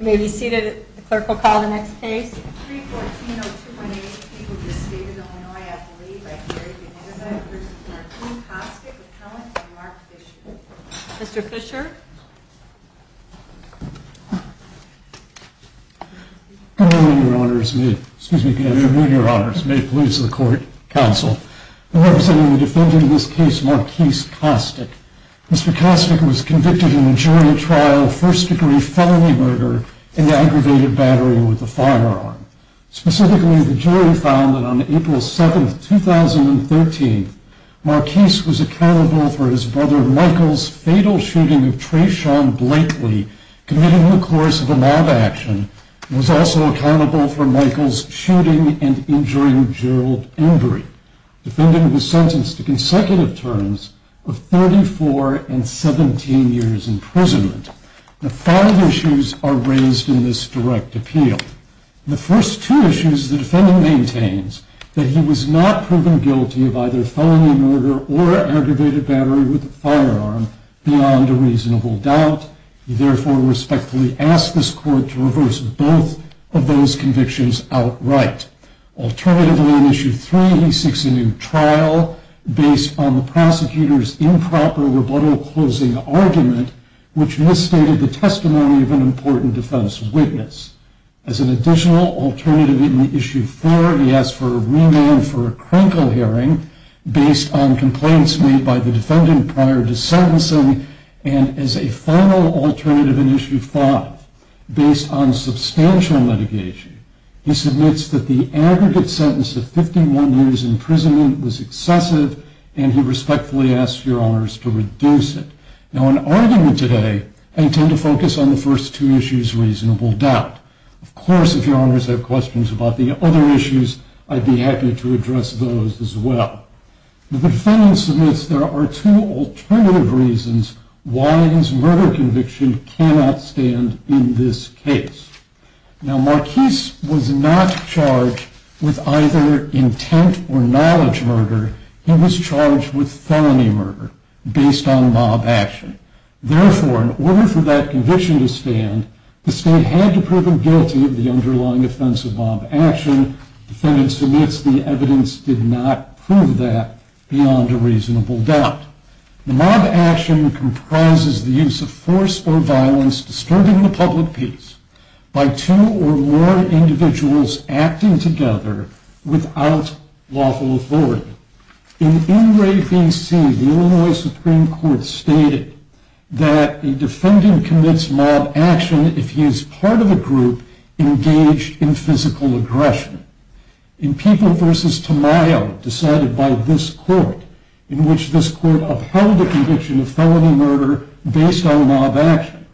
May be seated. The clerk will call the next case. Mr. Fisher Excuse me, Your Honors, may it please the court, counsel, representing the defendant in this case, Marquis Costic. Mr. Costic was convicted in a jury trial, first degree felony murder in the aggravated battery with a firearm. Specifically, the jury found that on April 7th, 2013, Marquis was accountable for his brother, Michael's, fatal shooting of Treshawn Blakely, committing the course of a mob action, and was also accountable for Michael's shooting and injuring Gerald Embry. The defendant was sentenced to consecutive terms of 34 and 17 years imprisonment. The five issues are raised in this direct appeal. The first two issues, the defendant maintains that he was not proven guilty of either felony murder or aggravated battery with a firearm beyond a reasonable doubt. He therefore respectfully asked this court to reverse both of those convictions outright. Alternatively, in issue three, he seeks a new trial based on the prosecutor's improper rebuttal closing argument, which misstated the testimony of an important defense witness. As an additional alternative in issue four, he asks for a remand for a crankle hearing based on complaints made by the defendant prior to sentencing. And as a final alternative in issue five, based on substantial litigation, he submits that the aggregate sentence of 51 years imprisonment was excessive and he respectfully asked your honors to reduce it. Now, in arguing today, I intend to focus on the first two issues, reasonable doubt. Of course, if your honors have questions about the other issues, I'd be happy to address those as well. The defendant submits there are two alternative reasons why his murder conviction cannot stand in this case. Now, Marquis was not charged with either intent or knowledge murder. He was charged with felony murder based on mob action. Therefore, in order for that conviction to stand, the state had to prove him guilty of the underlying offense of mob action. The defendant submits the evidence did not prove that beyond a reasonable doubt. The mob action comprises the use of force or violence disturbing the public peace. By two or more individuals acting together without lawful authority. In NRAVC, the Illinois Supreme Court stated that a defendant commits mob action if he is part of a group engaged in physical aggression. In People v. Tamayo, decided by this court, in which this court upheld the conviction of felony murder based on mob action.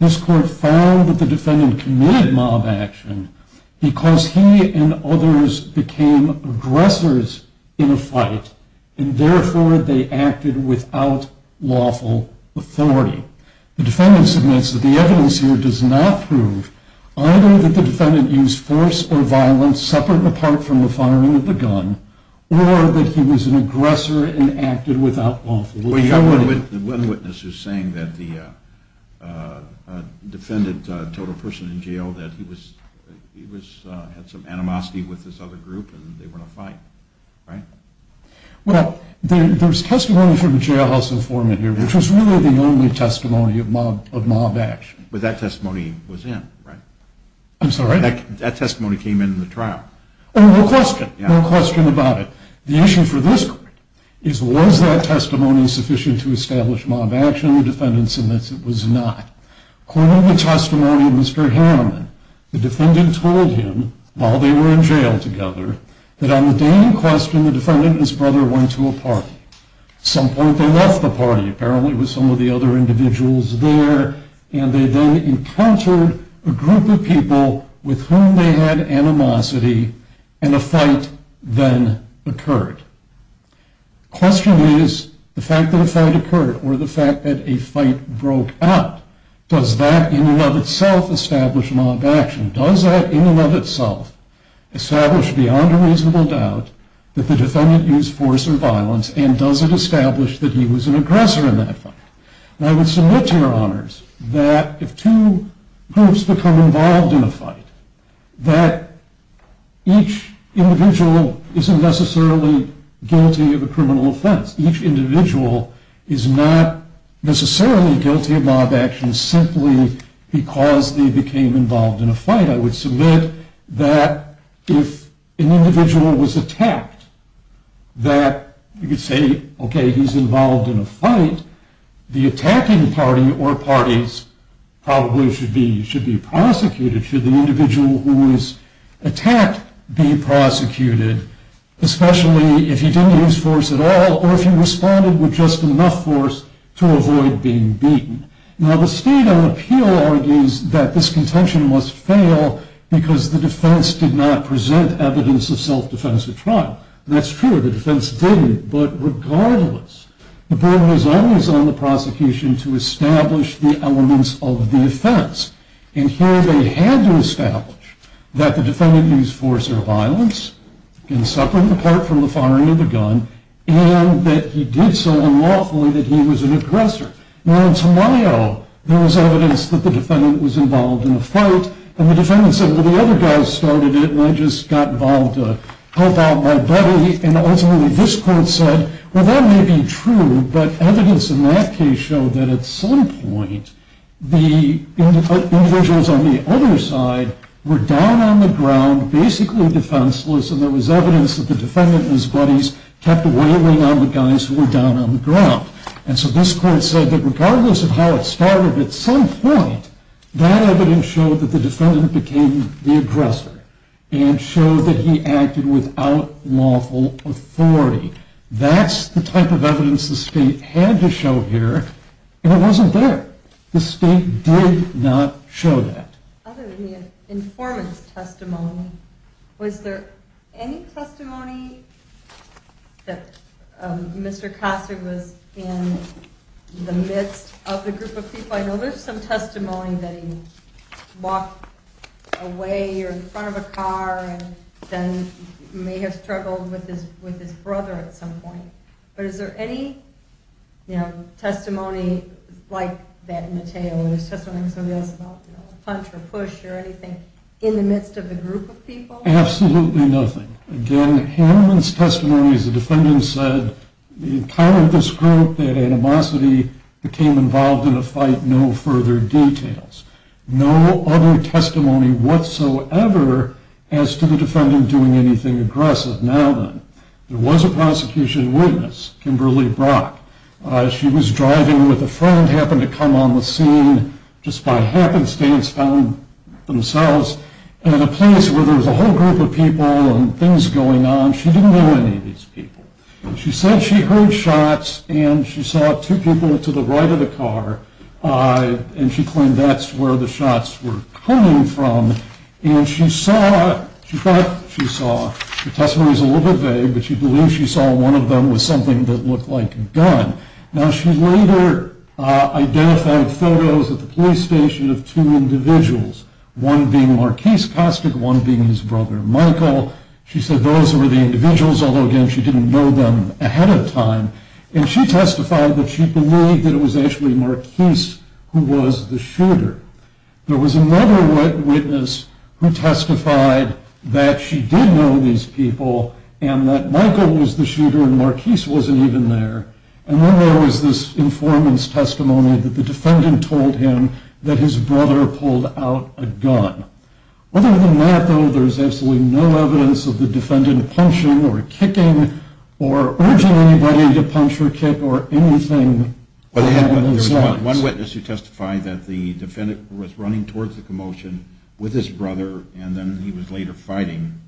This court found that the defendant committed mob action because he and others became aggressors in a fight and therefore they acted without lawful authority. The defendant submits that the evidence here does not prove either that the defendant used force or violence separate and apart from the firing of the gun or that he was an aggressor and acted without lawful authority. One witness is saying that the defendant told a person in jail that he had some animosity with this other group and they were in a fight, right? Well, there's testimony from a jailhouse informant here, which was really the only testimony of mob action. But that testimony was in, right? I'm sorry? That testimony came in the trial. Oh, no question. No question about it. The issue for this court is, was that testimony sufficient to establish mob action? The defendant submits it was not. According to the testimony of Mr. Hanneman, the defendant told him, while they were in jail together, that on the day in question, the defendant and his brother went to a party. Some point they left the party, apparently with some of the other individuals there, and they then occurred. Question is, the fact that a fight occurred or the fact that a fight broke out, does that in and of itself establish mob action? Does that in and of itself establish beyond a reasonable doubt that the defendant used force or violence? And does it establish that he was an aggressor in that fight? And I would submit to your honors that if two groups become involved in a fight, that each individual isn't necessarily guilty of a criminal offense. Each individual is not necessarily guilty of mob action simply because they became involved in a fight. I would submit that if an individual was attacked, that you could say, OK, he's involved in a fight. The attacking party or parties probably should be prosecuted. Should the individual who was attacked be prosecuted, especially if he didn't use force at all or if he responded with just enough force to avoid being beaten? Now, the State on Appeal argues that this contention must fail because the defense did not present evidence of self-defense at trial. That's true. The defense didn't, but regardless, the burden is always on the prosecution to establish the elements of the offense. And here they had to establish that the defendant used force or violence in separate, apart from the firing of the gun, and that he did so unlawfully that he was an aggressor. Now, in Tamayo, there was evidence that the defendant was involved in a fight, and the defendant said, well, the other guys started it, and I just got involved to help out my buddy. And ultimately, this court said, well, that may be true, but evidence in that case showed that at some point, the individuals on the other side were down on the ground, basically defenseless, and there was evidence that the defendant and his buddies kept wailing on the guys who were down on the ground. And so this court said that regardless of how it started, at some point, that evidence showed that the defendant became the aggressor and showed that he acted without lawful authority. That's the type of evidence the state had to show here, and it wasn't there. The state did not show that. Other than the informant's testimony, was there any testimony that Mr. Kosser was in the midst of the group of people? I know there's some testimony that he walked away or in front of a car and then may have struggled with his brother at some point, but is there any, you know, testimony like that in the tale? There's testimony about a punch or push or anything in the midst of a group of people? Absolutely nothing. Again, Haneman's testimony is the defendant said, in kind of this group, that animosity became involved in a fight, no further details. No other testimony whatsoever as to the defendant doing anything aggressive. Now then, there was a prosecution witness, Kimberly Brock. She was driving with a friend, happened to come on the scene just by happenstance, found themselves in a place where there was a whole group of people and things going on. She didn't know any of these people. She said she heard shots and she saw two people to the right of the car. And she claimed that's where the shots were coming from. And she saw, she thought she saw, the testimony is a little bit vague, but she believes she saw one of them was something that looked like a gun. Now, she later identified photos at the police station of two individuals, one being Marquise Kostic, one being his brother, Michael. She said those were the individuals, although, again, she didn't know them ahead of time. And she testified that she believed that it was actually Marquise who was the shooter. There was another witness who testified that she did know these people and that Michael was the shooter and Marquise wasn't even there. And then there was this informant's testimony that the defendant told him that his brother pulled out a gun. Other than that, though, there's absolutely no evidence of the defendant punching or kicking or anything. But there's one witness who testified that the defendant was running towards the commotion with his brother and then he was later fighting.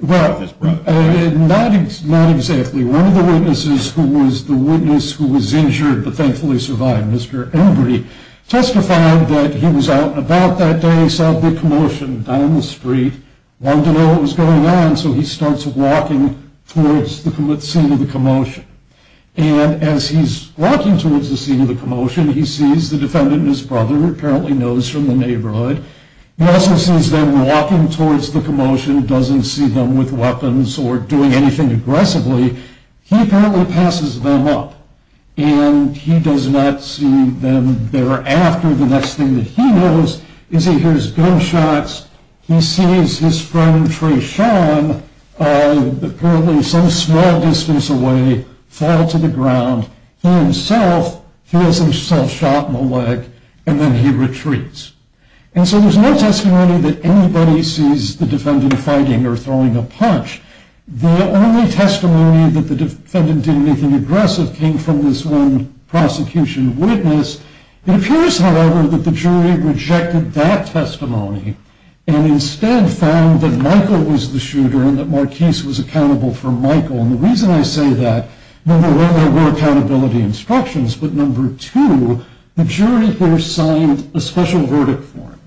Well, not exactly. One of the witnesses who was the witness who was injured but thankfully survived, Mr. Embry, testified that he was out and about that day, saw the commotion down the street, wanted to know what was going on. So he starts walking towards the scene of the commotion. And as he's walking towards the scene of the commotion, he sees the defendant and his brother, who apparently knows from the neighborhood. He also sees them walking towards the commotion, doesn't see them with weapons or doing anything aggressively. He apparently passes them up and he does not see them thereafter. The next thing that he knows is he hears gunshots. He sees his friend, Treshawn, apparently some small distance away, fall to the ground. He himself feels himself shot in the leg and then he retreats. And so there's no testimony that anybody sees the defendant fighting or throwing a punch. The only testimony that the defendant did anything aggressive came from this one prosecution witness. It appears, however, that the jury rejected that testimony and instead found that Michael was the shooter and that Marquis was accountable for Michael. And the reason I say that, number one, there were accountability instructions. But number two, the jury here signed a special verdict for him,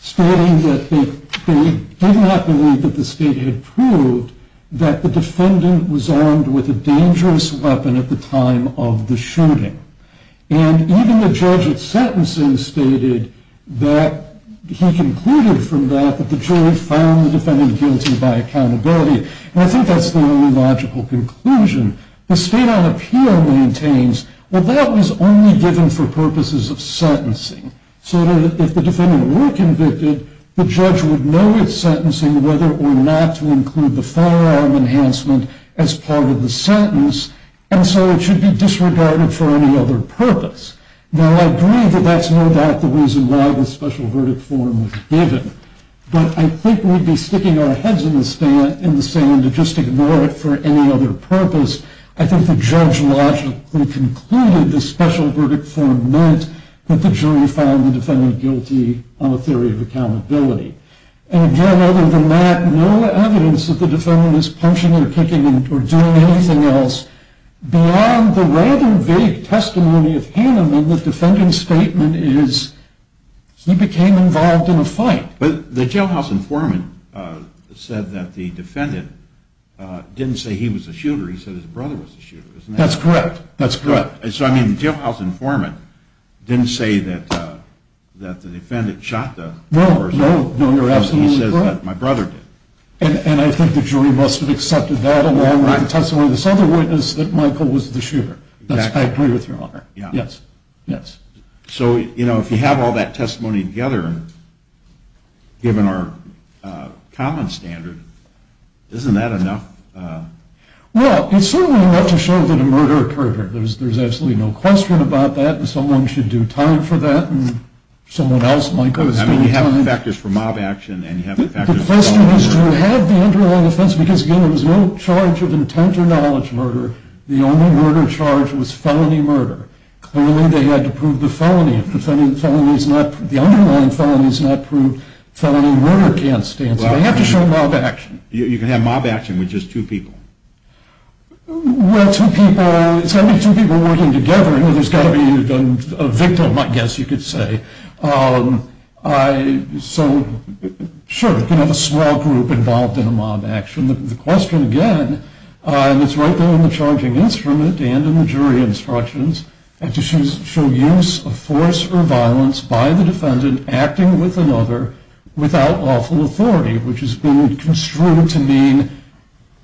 stating that they did not believe that the state had proved that the defendant was armed with a dangerous weapon at the time of the shooting. And even the judge at sentencing stated that he concluded from that that the jury found the defendant guilty by accountability. And I think that's the only logical conclusion. The state on appeal maintains, well, that was only given for purposes of sentencing. So if the defendant were convicted, the judge would know it's sentencing whether or not to include the firearm enhancement as part of the sentence. And so it should be disregarded for any other purpose. Now, I agree that that's no doubt the reason why the special verdict form was given. But I think we'd be sticking our heads in the sand to just ignore it for any other purpose. I think the judge logically concluded the special verdict form meant that the jury found the defendant guilty on a theory of accountability. And again, other than that, no evidence that the defendant is punching or kicking or doing anything else beyond the random vague testimony of Haneman, the defendant's statement is he became involved in a fight. But the jailhouse informant said that the defendant didn't say he was a shooter. He said his brother was a shooter. That's correct. That's correct. So, I mean, the jailhouse informant didn't say that that the defendant shot the person. No, no, you're absolutely correct. He said that my brother did. And I think the jury must have accepted that along with the testimony of this other witness that Michael was the shooter. I agree with your honor. Yes. Yes. So, you know, if you have all that testimony together, given our common standard, isn't that enough? Well, it's certainly enough to show that a murder occurred. There's there's absolutely no question about that. And someone should do time for that. And someone else, Michael, is doing time. I mean, you have the factors for mob action. The question is, do you have the underlying offense? Because, again, there was no charge of intent or knowledge murder. The only murder charge was felony murder. Clearly, they had to prove the felony. If the underlying felony is not proved, felony murder can't stand. So they have to show mob action. You can have mob action with just two people. Well, two people, it's got to be two people working together. You know, there's got to be a victim, I guess you could say. So, sure, you can have a small group involved in a mob action. The question, again, and it's right there in the charging instrument and in the jury instructions, is to show use of force or violence by the defendant acting with another without lawful authority, which is being construed to mean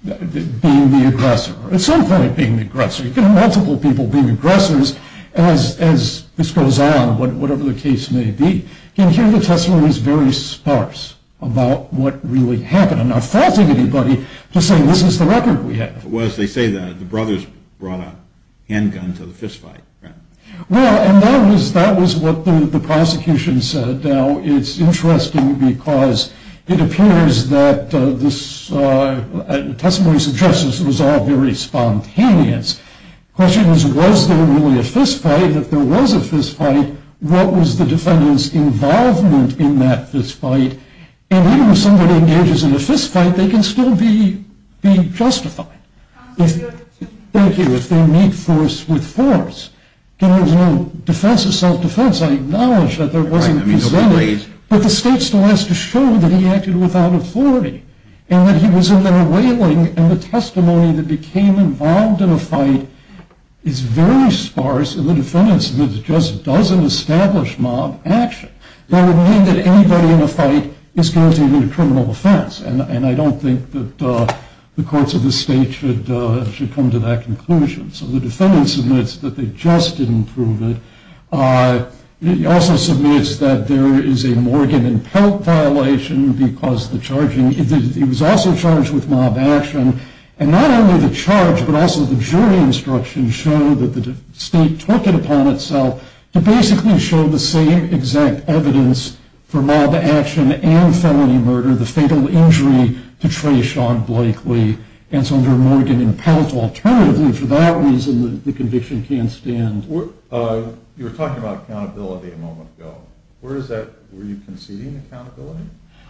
being the aggressor. At some point, being the aggressor. You can have multiple people being aggressors. As this goes on, whatever the case may be, you can hear the testimony is very sparse about what really happened. I'm not faulting anybody, just saying this is the record we have. Well, as they say, the brothers brought a handgun to the fistfight. Well, and that was what the prosecution said. Now, it's interesting because it appears that this testimony suggests this was all very spontaneous. The question is, was there really a fistfight? If there was a fistfight, what was the defendant's involvement in that fistfight? And even if somebody engages in a fistfight, they can still be justified. Thank you. If they meet force with force, there was no defense of self-defense. I acknowledge that there wasn't, but the state still has to show that he acted without authority and that he was in there wailing. And the testimony that became involved in a fight is very sparse. And the defendant just doesn't establish mob action. That would mean that anybody in a fight is guaranteed a criminal offense. And I don't think that the courts of the state should come to that conclusion. So the defendant submits that they just didn't prove it. He also submits that there is a Morgan and Pelt violation because the charging, he was also charged with mob action. And not only the charge, but also the jury instructions show that the state took it upon itself to basically show the same exact evidence for mob action and felony murder, the fatal injury to Trey Sean Blakely. And so under Morgan and Pelt, alternatively, for that reason, the conviction can't stand. You were talking about accountability a moment ago. Where is that? Were you conceding accountability?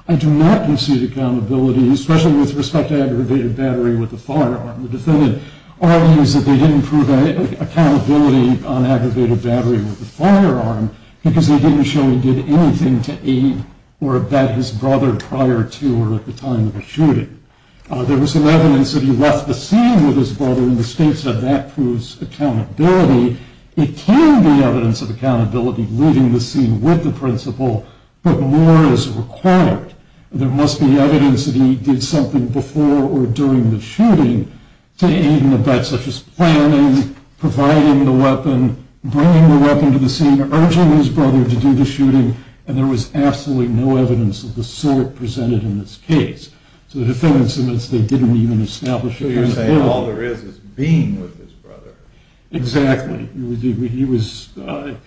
I do not concede accountability. Especially with respect to aggravated battery with the firearm. The defendant argues that they didn't prove accountability on aggravated battery with the firearm because they didn't show he did anything to aid or abet his brother prior to or at the time of the shooting. There was some evidence that he left the scene with his brother and the state said that proves accountability. It can be evidence of accountability leaving the scene with the principal, but more is required. There must be evidence that he did something before or during the shooting to aid and abet such as planning, providing the weapon, bringing the weapon to the scene, urging his brother to do the shooting. And there was absolutely no evidence of the sort presented in this case. So the defendant submits they didn't even establish it. So you're saying all there is, is being with his brother. Exactly. He was, again,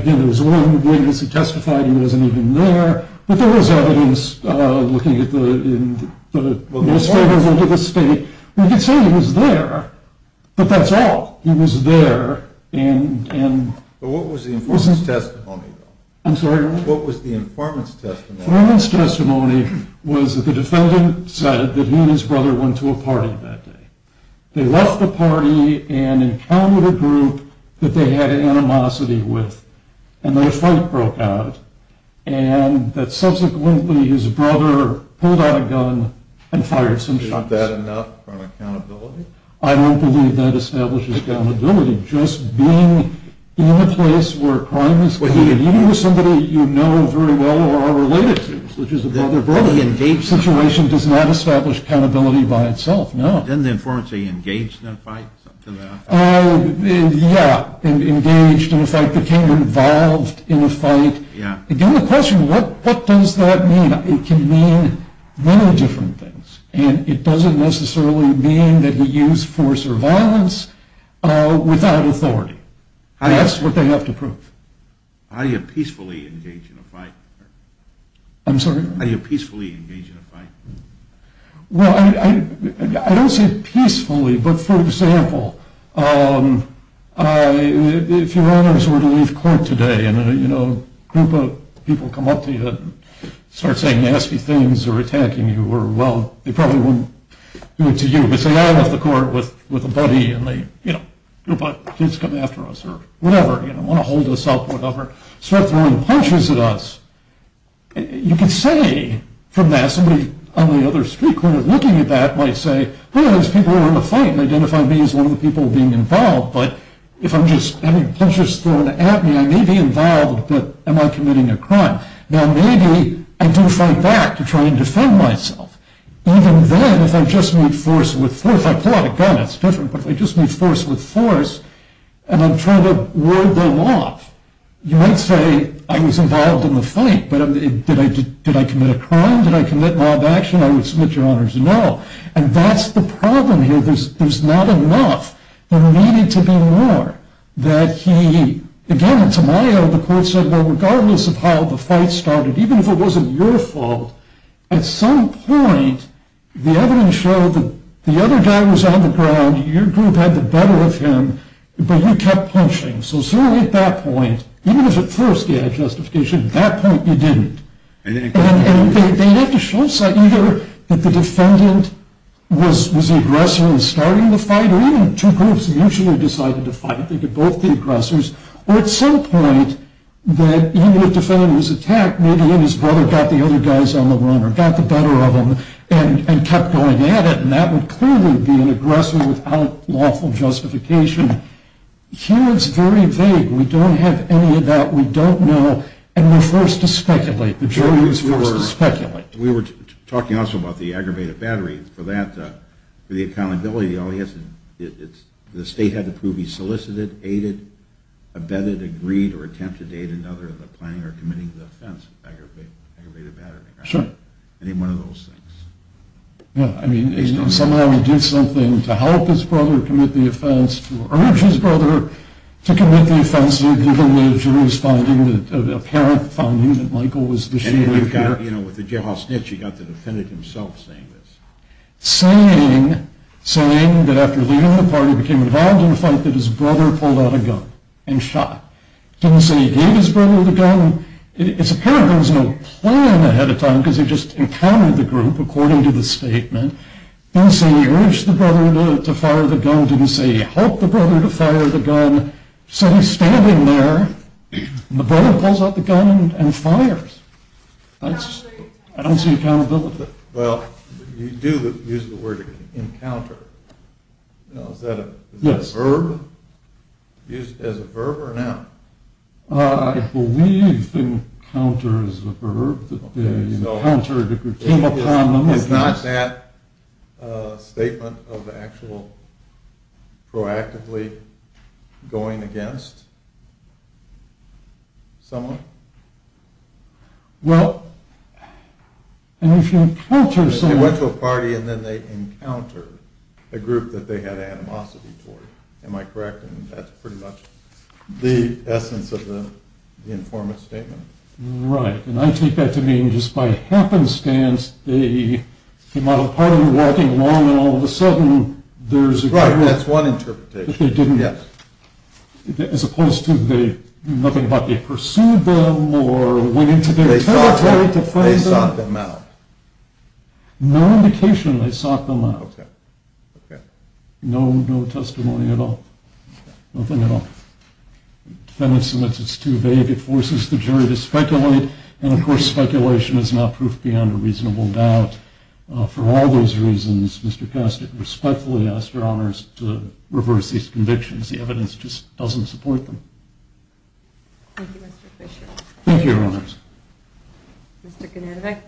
there was a lot of evidence he testified he wasn't even there, but there was evidence looking at the state, we can say he was there, but that's all. He was there. And what was the informant's testimony? I'm sorry, what was the informant's testimony? The informant's testimony was that the defendant said that he and his brother went to a party that day. They left the party and encountered a group that they had animosity with and their fight his brother pulled out a gun and fired some shots. Is that enough for accountability? I don't believe that establishes accountability. Just being in a place where crime is committed, even with somebody you know very well or are related to, which is a brother-brother situation, does not establish accountability by itself. No. Didn't the informant say engaged in a fight? Yeah, engaged in a fight, became involved in a fight. The only question, what does that mean? It can mean many different things. And it doesn't necessarily mean that he used force or violence without authority. That's what they have to prove. How do you peacefully engage in a fight? I'm sorry? How do you peacefully engage in a fight? Well, I don't say peacefully, but for example, if your owners were to leave court today and a group of people come up to you and start saying nasty things or attacking you or well, they probably wouldn't do it to you. But say I left the court with a buddy and they, you know, kids come after us or whatever, you know, want to hold us up or whatever, start throwing punches at us, you can say from that, somebody on the other street corner looking at that might say, one of those people who were in the fight and identified me as one of the people being involved. But if I'm just having punches thrown at me, I may be involved, but am I committing a crime? Now, maybe I do fight back to try and defend myself. Even then, if I just meet force with force, if I pull out a gun, it's different, but if I just meet force with force and I'm trying to ward them off, you might say I was involved in the fight, but did I commit a crime? Did I commit law of action? I would submit your honor's no. And that's the problem here. There's not enough, there needed to be more, that he, again, Tamayo, the court said, well, regardless of how the fight started, even if it wasn't your fault, at some point, the evidence showed that the other guy was on the ground, your group had the better of him, but you kept punching. So certainly at that point, even if at first you had justification, at that point you didn't. And they'd have to show us either that the defendant was an aggressor and was starting the fight, or even two groups usually decided to fight, think of both the aggressors, or at some point that even if the defendant was attacked, maybe he and his brother got the other guys on the run or got the better of them and kept going at it. And that would clearly be an aggressor without lawful justification. Here it's very vague. We don't have any of that. We don't know. And we're forced to speculate. The jury is forced to speculate. We were talking also about the aggravated battery. For that, for the accountability, the state had to prove he solicited, aided, abetted, agreed, or attempted to aid another in the planning or committing the offense of aggravated battery. Any one of those things. Yeah, I mean, somehow he did something to help his brother commit the offense, to urge his brother to fire the gun, didn't say he helped the brother to fire the gun, said he's standing there, and the brother pulls out the gun and fires. That's, I don't see accountability. Well, you do use the word encounter, is that a verb, used as a verb or not? I believe encounter is a verb, that they encountered, it came upon them. Is not that a statement of the actual proactively going against someone? Well, and if you encounter someone. They went to a party and then they encountered a group that they had animosity toward, am I correct? And that's pretty much the essence of the informant statement. Right, and I take that to mean just by happenstance, they came out of the party walking along and all of a sudden there's a group. Right, that's one interpretation. That they didn't, as opposed to they, nothing about they pursued them or went into their territory to frame them. They sought them out. No indication they sought them out. Okay, okay. No, no testimony at all. Nothing at all. Defendant submits, it's too vague, it forces the jury to speculate, and of course speculation is not proof beyond a reasonable doubt. For all those reasons, Mr. Kostic respectfully asks your honors to reverse these convictions. The evidence just doesn't support them. Thank you, Mr. Kostic. Thank you, your honors. Mr. Gnadevich.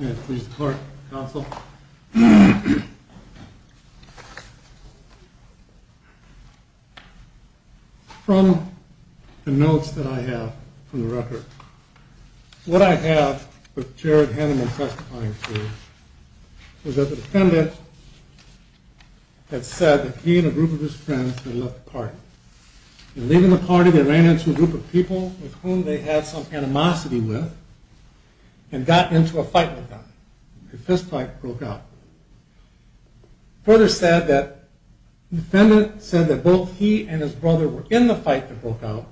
May I please the court, counsel? From the notes that I have from the record, what I have with Jared Hanneman testifying to is that the defendant had said that he and a group of his friends had left the party. And leaving the party, they ran into a group of people with whom they had some animosity with and got into a fight with them. A fistfight broke out. He further said that the defendant said that both he and his brother were in the fight that broke out.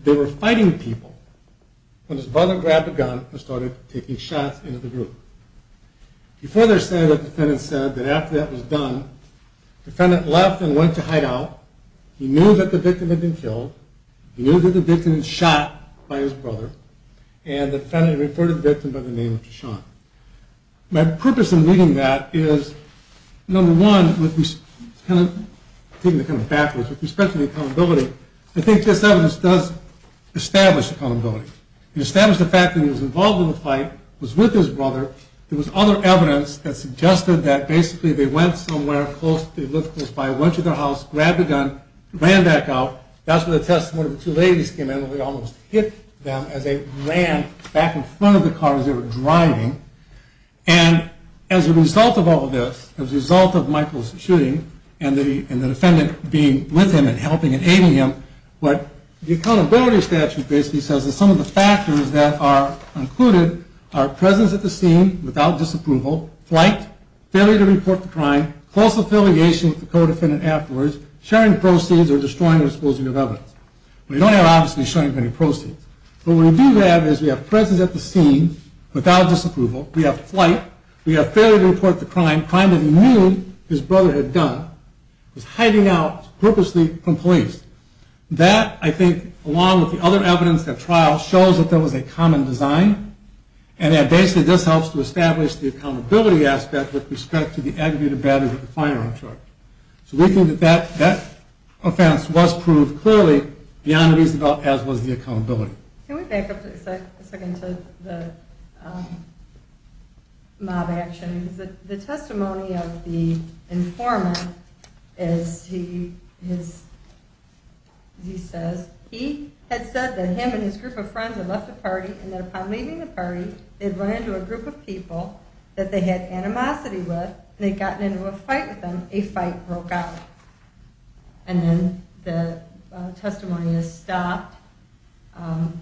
They were fighting people. When his brother grabbed a gun and started taking shots into the group. He further said that the defendant said that after that was done, the defendant left and went to hideout. He knew that the victim had been killed. He knew that the victim had been shot by his brother. And the defendant referred to the victim by the name of Deshaun. My purpose in reading that is, number one, with respect to the accountability, I think this evidence does establish accountability. It established the fact that he was involved in the fight, was with his brother. There was other evidence that suggested that basically they went somewhere close, they went to their house, grabbed a gun, ran back out. That's where the testimony of the two ladies came in where they almost hit them as they ran back in front of the cars they were driving. And as a result of all of this, as a result of Michael's shooting and the defendant being with him and helping and aiding him, what the accountability statute basically says is some of the factors that are included are presence at the scene without disapproval, flight, failure to report the crime, close affiliation with the co-defendant afterwards, sharing proceeds or destroying or disposing of evidence. We don't have, obviously, sharing of any proceeds. What we do have is we have presence at the scene without disapproval, we have flight, we have failure to report the crime, a crime that he knew his brother had done, was hiding out purposely from police. That, I think, along with the other evidence at trial, shows that there was a common design. And that basically this helps to establish the accountability aspect with respect to the aggravated badness of the firearm charge. So we think that that offense was proved clearly beyond reason, as was the accountability. Can we back up a second to the mob action? The testimony of the informant is he says, he had said that him and his group of friends had left the party and that upon leaving the party, they'd run into a group of people that they had animosity with, and they'd gotten into a fight with them, a fight broke out. And then the testimony is stopped. But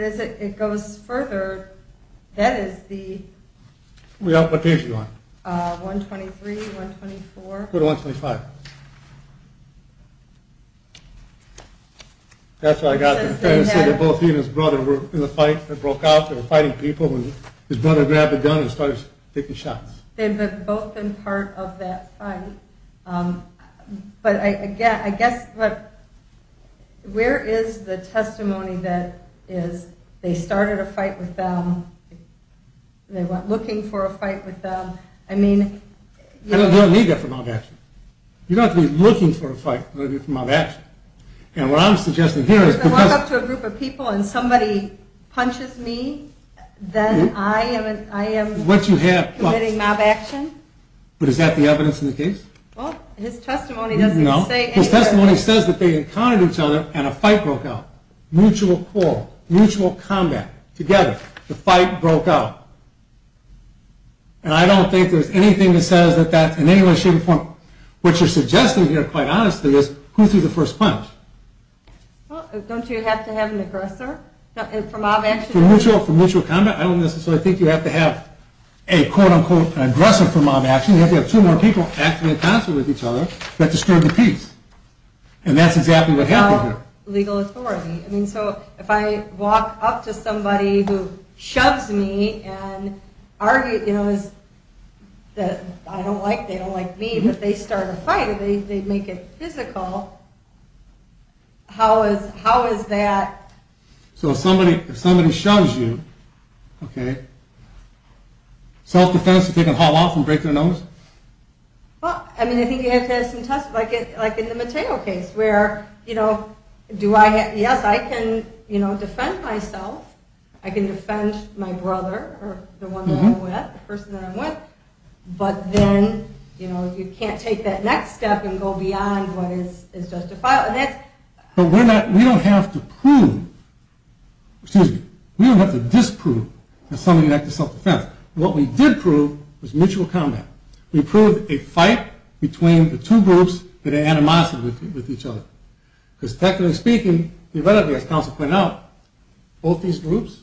as it goes further, that is the... What page are you on? 123, 124. Go to 125. That's what I got. He said that both he and his brother were in a fight that broke out. They were fighting people and his brother grabbed a gun and started taking shots. They'd both been part of that fight. But I guess, where is the testimony that is, they started a fight with them, they went looking for a fight with them. I don't need that from mob action. You don't have to be looking for a fight. If I walk up to a group of people and somebody punches me, then I am committing mob action? But is that the evidence in the case? Well, his testimony doesn't say anything. His testimony says that they encountered each other and a fight broke out. Mutual call, mutual combat. Together. The fight broke out. And I don't think there's anything that says that that's in any way, shape or form. What you're suggesting here, quite honestly, is who threw the first punch. Well, don't you have to have an aggressor? For mob action? For mutual combat? I don't necessarily think you have to have a, quote-unquote, an aggressor for mob action. You have to have two more people acting in concert with each other that disturbed the peace. And that's exactly what happened here. Without legal authority. If I walk up to somebody who shoves me and argues that I don't like them, they don't like me, but they start a fight and they make it physical, how is that? So if somebody shoves you, self-defense to take a haul off and break their nose? Well, I think you have to have some testimony. Like in the Mateo case, where, you know, yes, I can defend myself, I can defend my brother, or the one that I'm with, the person that I'm with, but then, you know, you can't take that next step and go beyond what is justified. But we don't have to prove, excuse me, we don't have to disprove that somebody acted self-defense. What we did prove was mutual combat. We proved a fight between the two groups that are animosity with each other. Because technically speaking, as counsel pointed out, both these groups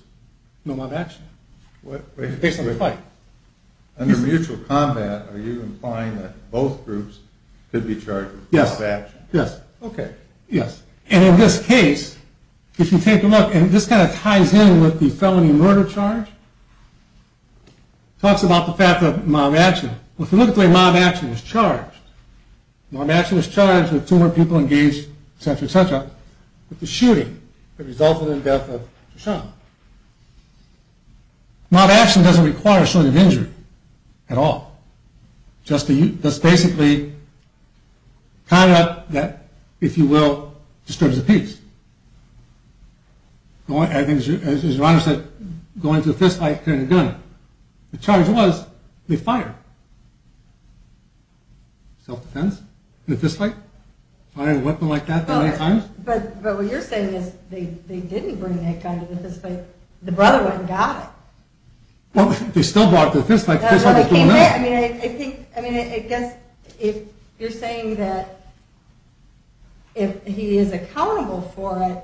know mob action. Based on the fight. Under mutual combat, are you implying that both groups could be charged with mob action? Yes. And in this case, if you take a look, and this kind of ties in with the felony murder charge, talks about the fact that mob action, if you look at the way mob action is charged, mob action is charged with two or more people engaged, etc., etc., with the shooting that resulted in the death of Shoshana. Mob action doesn't require sort of injury at all. Just basically tying up that, if you will, disturbs the peace. As your Honor said, going to the fist fight, carrying a gun, the charge was, they fired. Self-defense? In a fist fight? Fire a weapon like that that many times? But what you're saying is, they didn't bring that gun to the fist fight. The brother went and got it. Well, they still brought it to the fist fight. I mean, I think, I mean, I guess, if you're saying that if he is accountable for it,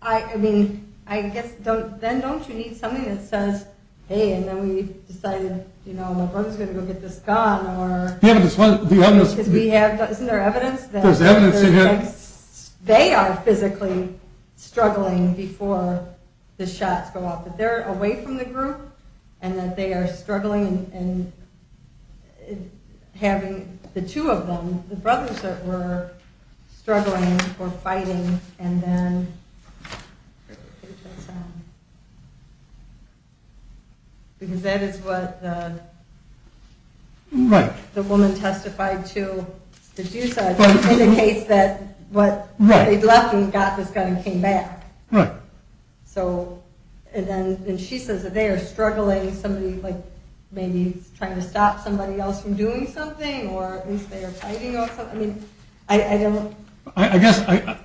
I mean, I guess, then don't you need something that says, hey, and then we decided, you know, my brother's going to go get this gun. Isn't there evidence that they are physically struggling before the shots go off? That they're away from the group and that they are struggling and having the two of them, the brothers that were struggling or fighting, and then, I don't know. Because that is what the woman testified to. It indicates that they left and got this gun and came back. And she says that they are struggling, maybe trying to stop somebody else from doing something, or at least they are fighting off something. I guess, I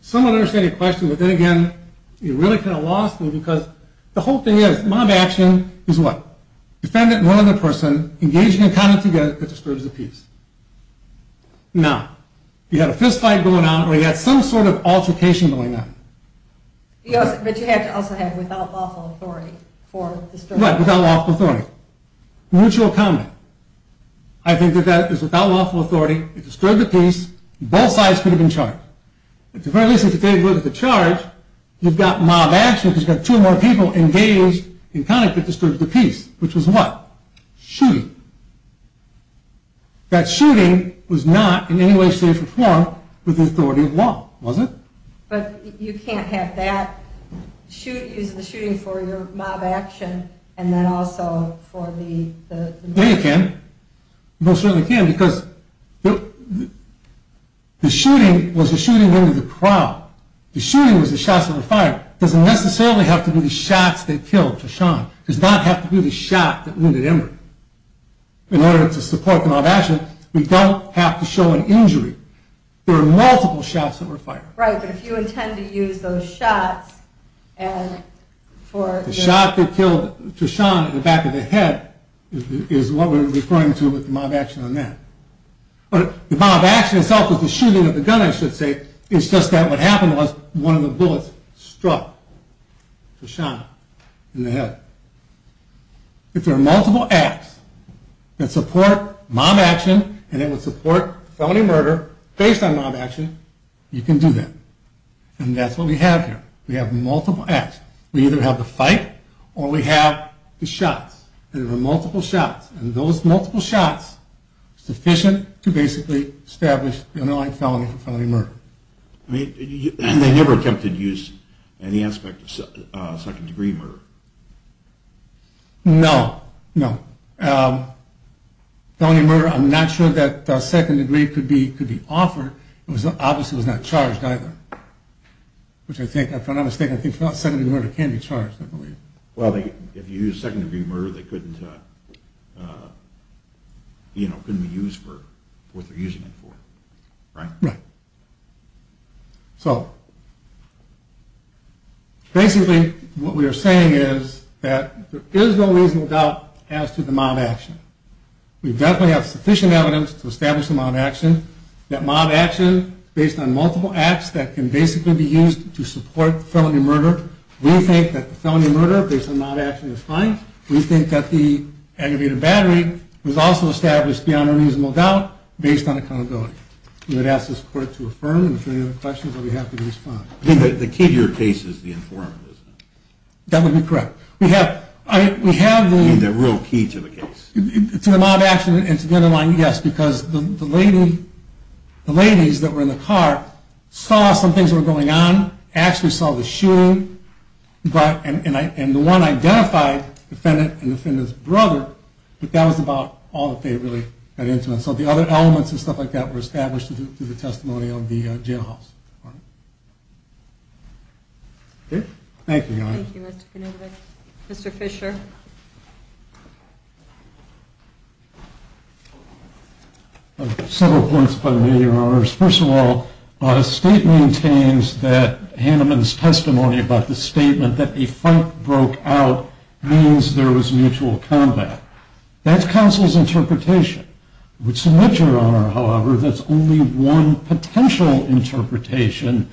somewhat understand your question, but then again, you really kind of lost me because the whole thing is, mob action is what? Defendant and one other person engaging in combat together that disturbs the peace. Now, you have a fist fight going on or you have some sort of altercation going on. Yes, but you have to also have without lawful authority for disturbing the peace. Right, without lawful authority. Mutual combat. I think that is without lawful authority that disturbs the peace and both sides could have been charged. At the very least, if you take a look at the charge, you've got mob action because you've got two more people engaged in combat that disturbs the peace, which is what? Shooting. That shooting was not in any way, shape, or form with the authority of law, was it? But you can't have that use the shooting for your mob action and then also for the... Yeah, you can. You most certainly can because the shooting was the shooting into the crowd. The shooting was the shots that were fired. It doesn't necessarily have to be the shots that killed. It does not have to be the shot that wounded Emory. In order to support the mob action, we don't have to show an injury. There are multiple shots that were fired. Right, but if you intend to use those shots and for... The shot that killed Treshawn in the back of the head is what we're referring to with the mob action on that. But the mob action itself was the shooting of the gun, I should say. It's just that what happened was one of the bullets struck Treshawn in the head. If there are multiple acts that support mob action and that would support felony murder based on mob action, you can do that. And that's what we have here. We have multiple acts. We either have the fight or we have the shots. There are multiple shots. And those multiple shots are sufficient to basically establish the underlying felony for felony murder. And they never attempted to use any aspect of second degree murder? No. No. Felony murder, I'm not sure that second degree could be offered. Obviously it was not charged either. Which I think, if I'm not mistaken, I think second degree murder can be charged. Well, if you use second degree murder they couldn't you know, couldn't be used for what they're using it for. Right? So basically what we are saying is that there is no reasonable doubt as to the mob action. We definitely have sufficient evidence to establish the mob action. That mob action based on multiple acts that can basically be used to support felony murder. We think that the felony murder based on mob action is fine. We think that the aggravated battery was also established beyond a reasonable doubt based on accountability. We would ask this court to affirm and if there are any other questions that we have to respond. The key to your case is the informant, isn't it? That would be correct. I mean, the real key to the case. To the mob action and to the other line, yes. Because the lady the ladies that were in the car saw some things that were going on actually saw the shooting and the one identified the defendant and the defendant's brother but that was about all that they really got into. So the other elements and stuff like that were established through the testimony of the jailhouse. Thank you. Mr. Fisher. Several points by the way, Your Honor. First of all, the state maintains that Hanneman's testimony about the statement that a fight broke out means there was mutual combat. That's counsel's interpretation. With some literature, Your Honor, however, that's only one potential interpretation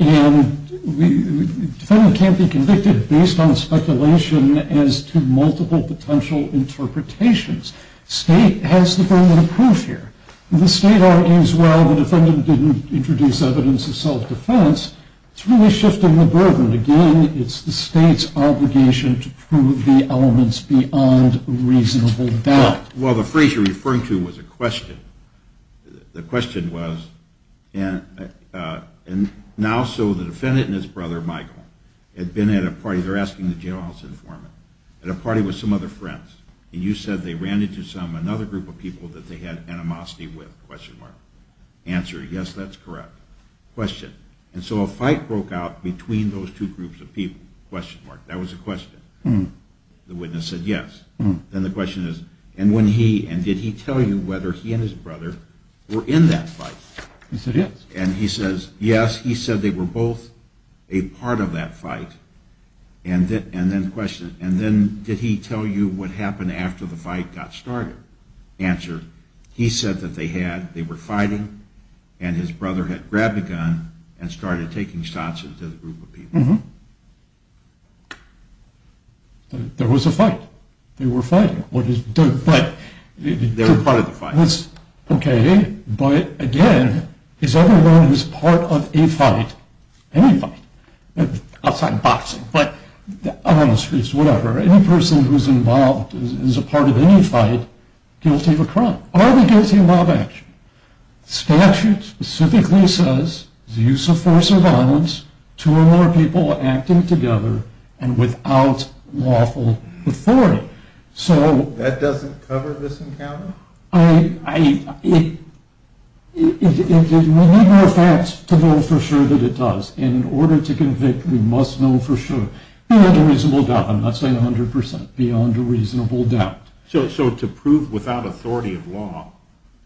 and the defendant can't be convicted based on speculation as to multiple potential interpretations. State has the burden of proof here. The state argues, well, the defendant didn't introduce evidence of self-defense it's really shifting the burden. Again, it's the state's obligation to prove the elements beyond reasonable doubt. Well, the phrase you're referring to was a question. The question was and now, so the defendant and his brother, Michael, had been at a party they're asking the jailhouse informant at a party with some other friends and you said they ran into another group of people that they had animosity with, question mark. Answer, yes, that's correct. Question, and so a fight broke out between those two groups of people question mark, that was a question. The witness said yes. Then the question is and did he tell you whether he and his brother were in that fight? He said yes. He said they were both a part of that fight and then question, did he tell you what happened after the fight got started? Answer, he said that they had they were fighting and his brother had grabbed a gun and started taking shots into the group of people. There was a fight. They were fighting. They were part of the fight. Okay, but again his other one was part of any fight outside boxing on the streets, whatever any person who is involved is a part of any fight guilty of a crime. Are they guilty of mob action? Statute specifically says use of force or violence two or more people acting together and without lawful authority. That doesn't cover this encounter? It We need more facts to know for sure that it does. In order to convict we must know for sure. Beyond a reasonable doubt I'm not saying 100%. Beyond a reasonable doubt. So to prove without authority of law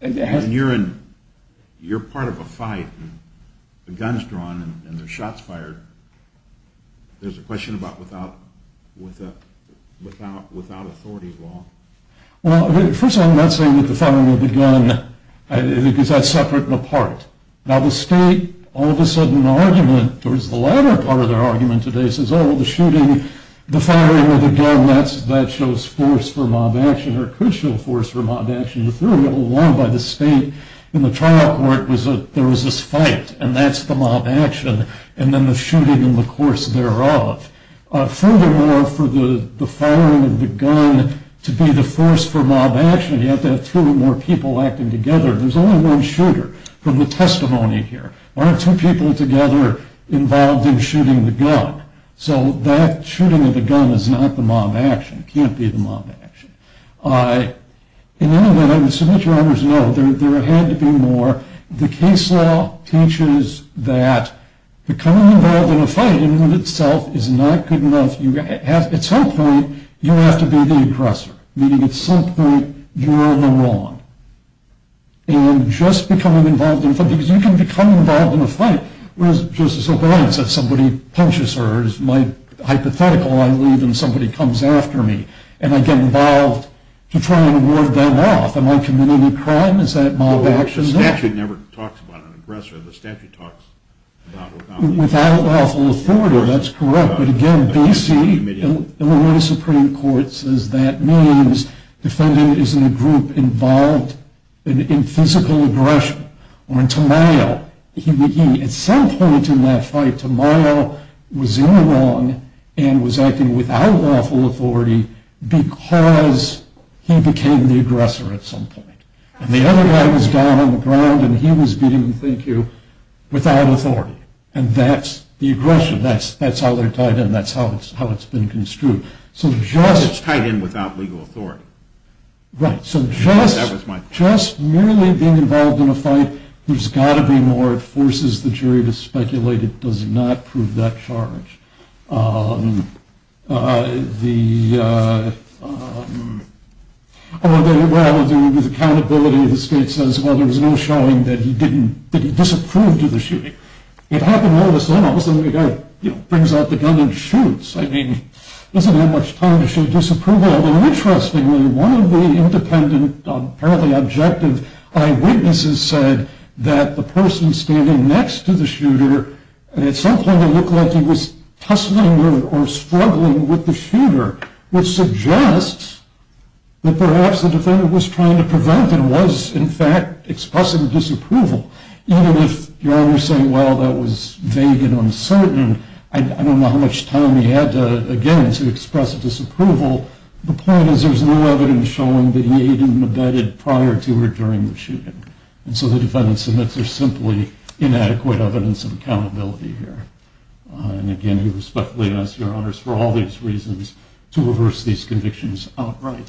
and you're in you're part of a fight the gun's drawn and the shots fired there's a question about without without authority of law? Well, first of all I'm not saying that the firing of the gun is that separate and apart? Now the state, all of a sudden argument, or is the latter part of their argument today says, oh, the shooting the firing of the gun, that shows force for mob action, or could show force for mob action. The theory along by the state in the trial court was that there was this fight and that's the mob action and then the shooting in the course thereof. Furthermore, for the firing of the gun to be the force for mob action you have to have two or more people acting together there's only one shooter from the testimony here. Aren't two people together involved in shooting the gun? So that shooting of the gun is not the mob action it can't be the mob action. In any event, I would submit your honor to know there had to be more the case law teaches that becoming involved in a fight in and of itself is not good enough at some point you have to be the aggressor meaning at some point you're in the wrong and just becoming involved in a fight because you can become involved in a fight where it's just a surprise if somebody punches her it's my hypothetical I leave and somebody comes after me and I get involved to try and ward them off am I committing a crime? Is that mob action? The statute never talks about an aggressor the statute talks about... Without lawful authority, that's correct but again, B.C., Illinois Supreme Court it says that means the defendant is in a group involved in physical aggression or in turmoil at some point in that fight turmoil was in the wrong and was acting without lawful authority because he became the aggressor at some point and the other guy was down on the ground and he was beating without authority and that's the aggression that's how they're tied in that's how it's been construed it's tied in without legal authority right just merely being involved in a fight there's got to be more it forces the jury to speculate it does not prove that charge with accountability the state says there was no showing that he disapproved of the shooting it happened all of a sudden he brings out the gun and shoots he doesn't have much time to show disapproval interestingly, one of the independent apparently objective eyewitnesses said that the person standing next to the shooter at some point looked like he was tussling or struggling with the shooter which suggests that perhaps the defendant was trying to prevent and was in fact expressing disapproval even if you're always saying well that was vague and uncertain I don't know how much time he had again to express disapproval the point is there's no evidence showing that he even abetted prior to or during the shooting and so the defendant submits there's simply inadequate evidence of accountability here and again we respectfully ask your honors for all these reasons to reverse these convictions outright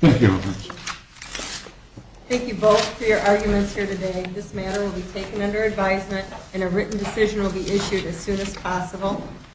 thank you thank you both for your arguments this matter will be taken under advisement and a written decision will be issued as soon as possible